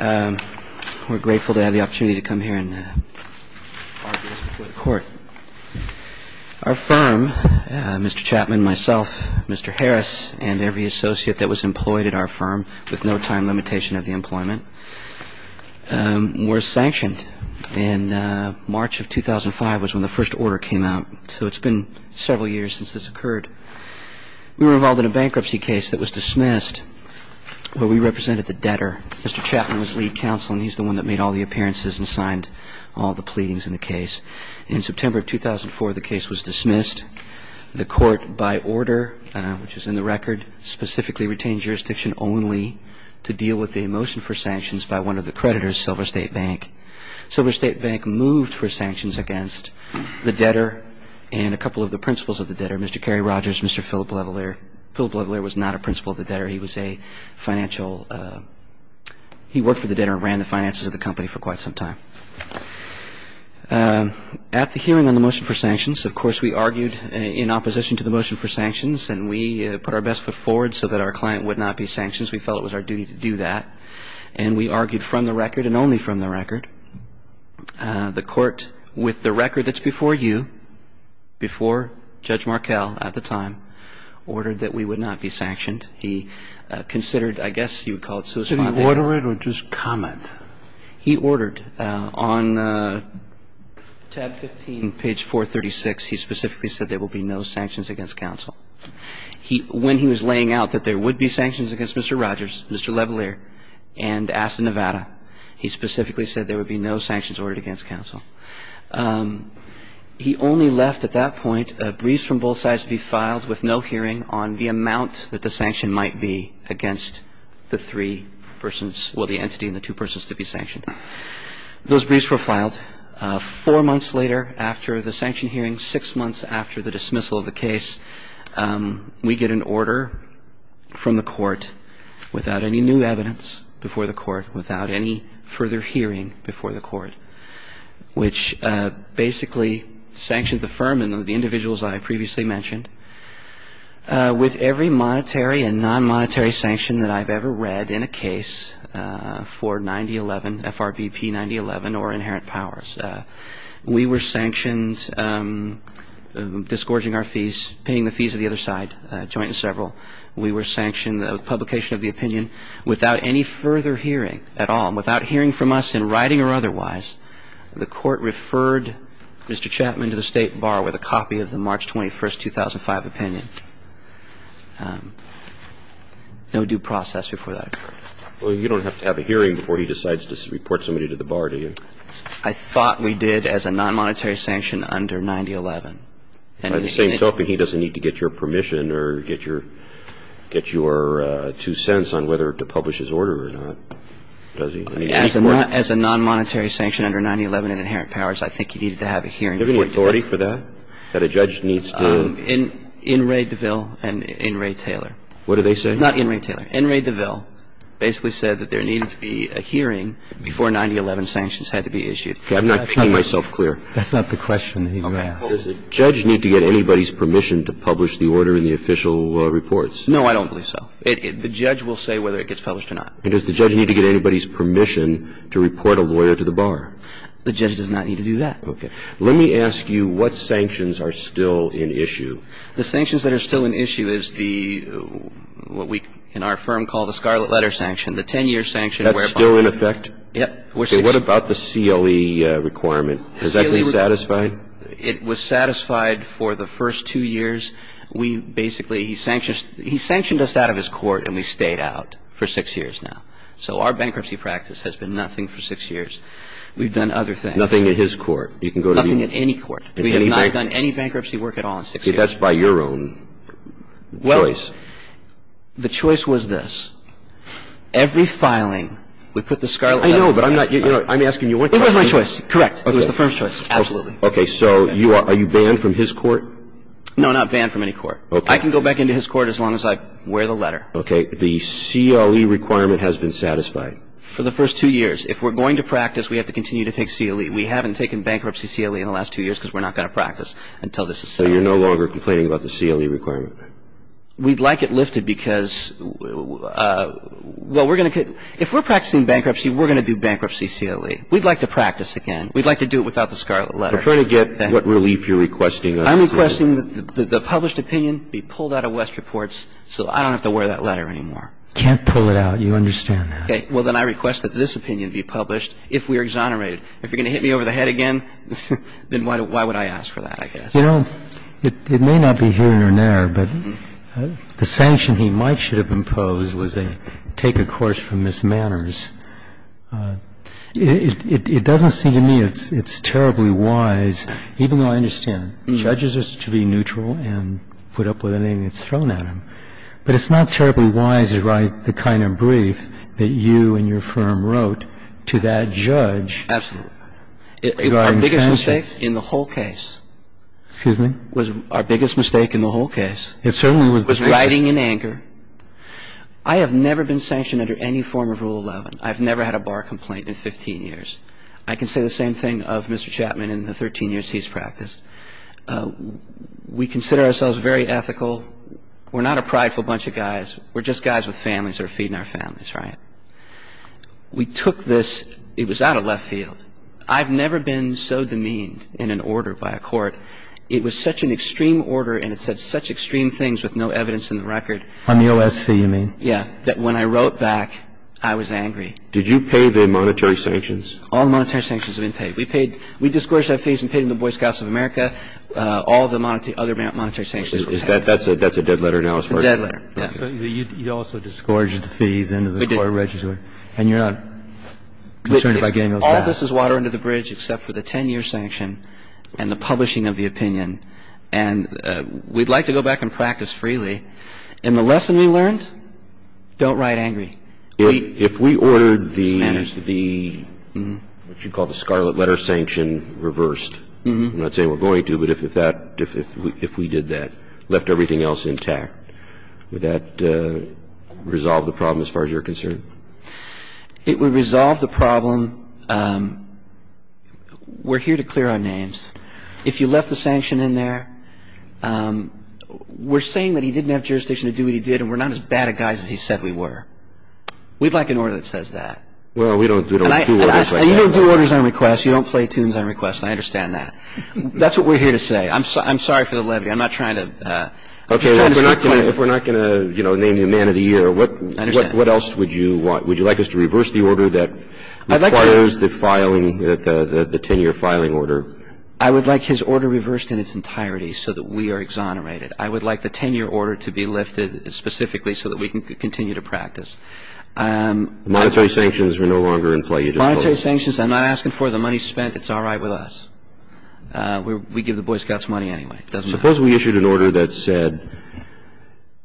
We're grateful to have the opportunity to come here and argue this before the court. Our firm, Mr. Chapman, myself, Mr. Harris, and every associate that was employed at our firm, with no time limitation of the employment, were sanctioned. And March of 2005 was when the first order came out, so it's been several years since this occurred. We were involved in a bankruptcy case that was dismissed, where we represented the debtor. Mr. Chapman was lead counsel, and he's the one that made all the appearances and signed all the pleadings in the case. In September of 2004, the case was dismissed. The court, by order, which is in the record, specifically retained jurisdiction only to deal with the motion for sanctions by one of the creditors, Silver State Bank. Silver State Bank moved for sanctions against the debtor and a couple of the principals of the debtor, Mr. Kerry Rogers, Mr. Philip Levalier. Philip Levalier was not a principal of the debtor. He was a financial – he worked for the debtor and ran the finances of the company for quite some time. At the hearing on the motion for sanctions, of course, we argued in opposition to the motion for sanctions, and we put our best foot forward so that our client would not be sanctioned. We felt it was our duty to do that, and we argued from the record and only from the record. The court, with the record that's before you, before Judge Markell at the time, ordered that we would not be sanctioned. He considered, I guess you would call it, so to speak. Did he order it or just comment? He ordered. On tab 15, page 436, he specifically said there will be no sanctions against counsel. He – when he was laying out that there would be sanctions against Mr. Rogers, Mr. Levalier, and asked in Nevada, he specifically said there would be no sanctions ordered against counsel. He only left at that point briefs from both sides to be filed with no hearing on the amount that the sanction might be against the three persons – well, the entity and the two persons to be sanctioned. Those briefs were filed. Four months later, after the sanction hearing, six months after the dismissal of the case, we get an order from the court without any new evidence before the court, without any further hearing before the court, which basically sanctioned the firm and the individuals I previously mentioned. With every monetary and non-monetary sanction that I've ever read in a case for 9011, FRBP 9011 or inherent powers, we were sanctioned disgorging our fees, paying the fees of the other side, joint and several. We were sanctioned the publication of the opinion without any further hearing at all. And without hearing from us in writing or otherwise, the court referred Mr. Chapman to the State Bar with a copy of the March 21, 2005, opinion. No due process before that occurred. Well, you don't have to have a hearing before he decides to report somebody to the Bar, do you? I thought we did as a non-monetary sanction under 9011. By the same token, he doesn't need to get your permission or get your two cents on whether to publish his order or not, does he? As a non-monetary sanction under 9011 and inherent powers, I think he needed to have a hearing before he did. Do you have any authority for that, that a judge needs to? In Ray DeVille and in Ray Taylor. What did they say? Not in Ray Taylor. In Ray DeVille basically said that there needed to be a hearing before 9011 sanctions had to be issued. I'm not making myself clear. That's not the question he asked. Does a judge need to get anybody's permission to publish the order in the official reports? No, I don't believe so. The judge will say whether it gets published or not. And does the judge need to get anybody's permission to report a lawyer to the Bar? The judge does not need to do that. Okay. Let me ask you what sanctions are still in issue. The sanctions that are still in issue is the, what we in our firm call the Scarlet Letter sanction, the 10-year sanction whereby. That's still in effect? Yep. Okay. What about the CLE requirement? Is that being satisfied? It was satisfied for the first two years. We basically, he sanctioned us out of his court and we stayed out for six years now. So our bankruptcy practice has been nothing for six years. We've done other things. Nothing at any court. We have not done any bankruptcy work at all in six years. Okay. That's by your own choice. Well, the choice was this. Every filing, we put the Scarlet Letter. I know, but I'm not, you know, I'm asking you one question. It was my choice. Correct. It was the firm's choice. Absolutely. Okay. So you are, are you banned from his court? No, not banned from any court. Okay. I can go back into his court as long as I wear the letter. Okay. The CLE requirement has been satisfied? For the first two years. If we're going to practice, we have to continue to take CLE. We haven't taken bankruptcy CLE in the last two years because we're not going to practice until this is settled. So you're no longer complaining about the CLE requirement? We'd like it lifted because, well, we're going to, if we're practicing bankruptcy, we're going to do bankruptcy CLE. We'd like to practice again. We'd like to do it without the Scarlet Letter. I'm trying to get what relief you're requesting. I'm requesting that the published opinion be pulled out of West Reports so I don't have to wear that letter anymore. You can't pull it out. You understand that. Okay. Well, then I request that this opinion be published if we are exonerated. If you're going to hit me over the head again, then why would I ask for that, I guess. You know, it may not be here or there, but the sanction he might should have imposed was a take a course from Ms. Manners. It doesn't seem to me it's terribly wise, even though I understand judges are to be neutral and put up with anything that's thrown at them. But it's not terribly wise to write the kind of brief that you and your firm wrote to that judge regarding sanctions. And I think that's a mistake in the whole case. Excuse me? It was our biggest mistake in the whole case. It certainly was. It was writing in anger. I have never been sanctioned under any form of Rule 11. I've never had a bar complaint in 15 years. I can say the same thing of Mr. Chapman in the 13 years he's practiced. We consider ourselves very ethical. We're not a prideful bunch of guys. We're just guys with families that are feeding our families, right? We took this. It was out of left field. I've never been so demeaned in an order by a court. It was such an extreme order, and it said such extreme things with no evidence in the record. On the OSC, you mean? Yeah. That when I wrote back, I was angry. Did you pay the monetary sanctions? All monetary sanctions have been paid. We paid – we disgorged our fees and paid them to Boy Scouts of America. All the other monetary sanctions we paid. That's a dead letter now as far as I know. Dead letter. You also disgorged the fees into the court register. We did. And you're not concerned about getting those back? All this is water under the bridge except for the 10-year sanction and the publishing of the opinion. And we'd like to go back and practice freely. And the lesson we learned? Don't write angry. If we ordered the – what you call the scarlet letter sanction reversed. I'm not saying we're going to, but if we did that, left everything else intact, would that resolve the problem as far as you're concerned? It would resolve the problem. We're here to clear our names. If you left the sanction in there, we're saying that he didn't have jurisdiction to do what he did and we're not as bad a guy as he said we were. We'd like an order that says that. Well, we don't do orders like that. And you don't do orders on request. You don't play tunes on request. I understand that. That's what we're here to say. I'm sorry for the levy. I'm not trying to – Okay. If we're not going to, you know, name you man of the year, what else would you do? Would you like us to reverse the order that requires the filing, the 10-year filing order? I would like his order reversed in its entirety so that we are exonerated. I would like the 10-year order to be lifted specifically so that we can continue to practice. Monetary sanctions are no longer in play. Monetary sanctions, I'm not asking for the money spent. It's all right with us. We give the Boy Scouts money anyway. It doesn't matter. Suppose we issued an order that said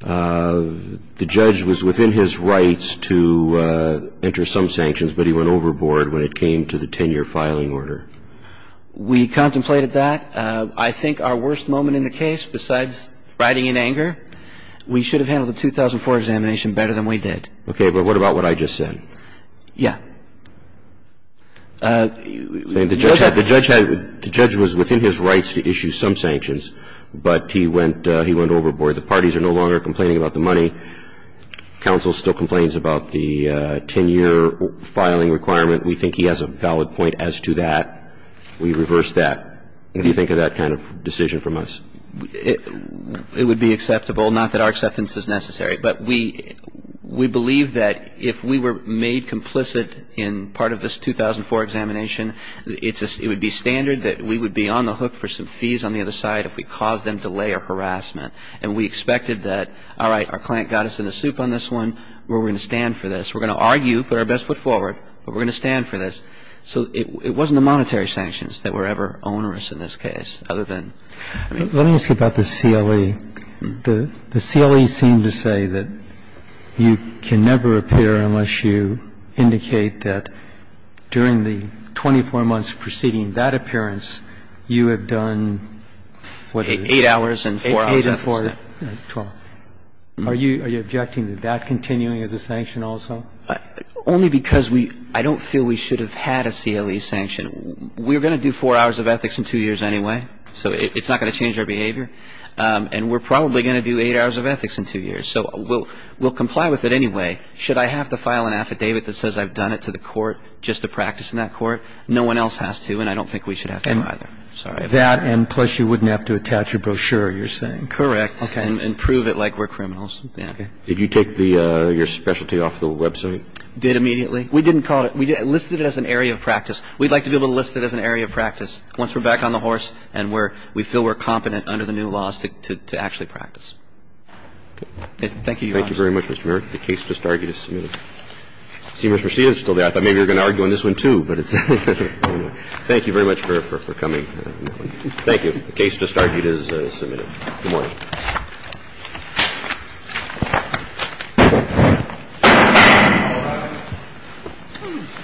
the judge was within his rights to enter some sanctions, but he went overboard when it came to the 10-year filing order. We contemplated that. I think our worst moment in the case, besides riding in anger, we should have handled the 2004 examination better than we did. Okay. But what about what I just said? Yeah. The judge was within his rights to issue some sanctions, but he went overboard. The parties are no longer complaining about the money. Counsel still complains about the 10-year filing requirement. We think he has a valid point as to that. We reversed that. What do you think of that kind of decision from us? It would be acceptable. Not that our acceptance is necessary. But we believe that if we were made complicit in part of this 2004 examination, it would be standard that we would be on the hook for some fees on the other side if we caused them delay or harassment. And we expected that, all right, our client got us in the soup on this one. We're going to stand for this. We're going to argue, put our best foot forward, but we're going to stand for this. So it wasn't the monetary sanctions that were ever onerous in this case, other than the money. Let me ask you about the CLE. The CLE seemed to say that you can never appear unless you indicate that during the 24 months preceding that appearance, you have done, what is it? Eight hours and four hours. Eight and four. Are you objecting to that continuing as a sanction also? Only because we don't feel we should have had a CLE sanction. We're going to do four hours of ethics in two years anyway. So it's not going to change our behavior. And we're probably going to do eight hours of ethics in two years. So we'll comply with it anyway. Should I have to file an affidavit that says I've done it to the court just to practice in that court? No one else has to, and I don't think we should have to either. That and plus you wouldn't have to attach a brochure, you're saying? Correct. Okay. And prove it like we're criminals. Did you take your specialty off the website? Did immediately. We didn't call it. We'd like to be able to list it as an area of practice. Once we're back on the horse and we feel we're competent under the new laws to actually practice. Thank you, Your Honor. Thank you very much, Mr. Merrick. The case just argued is submitted. I thought maybe you were going to argue on this one too. Thank you very much for coming. Thank you. The case just argued is submitted. Good morning.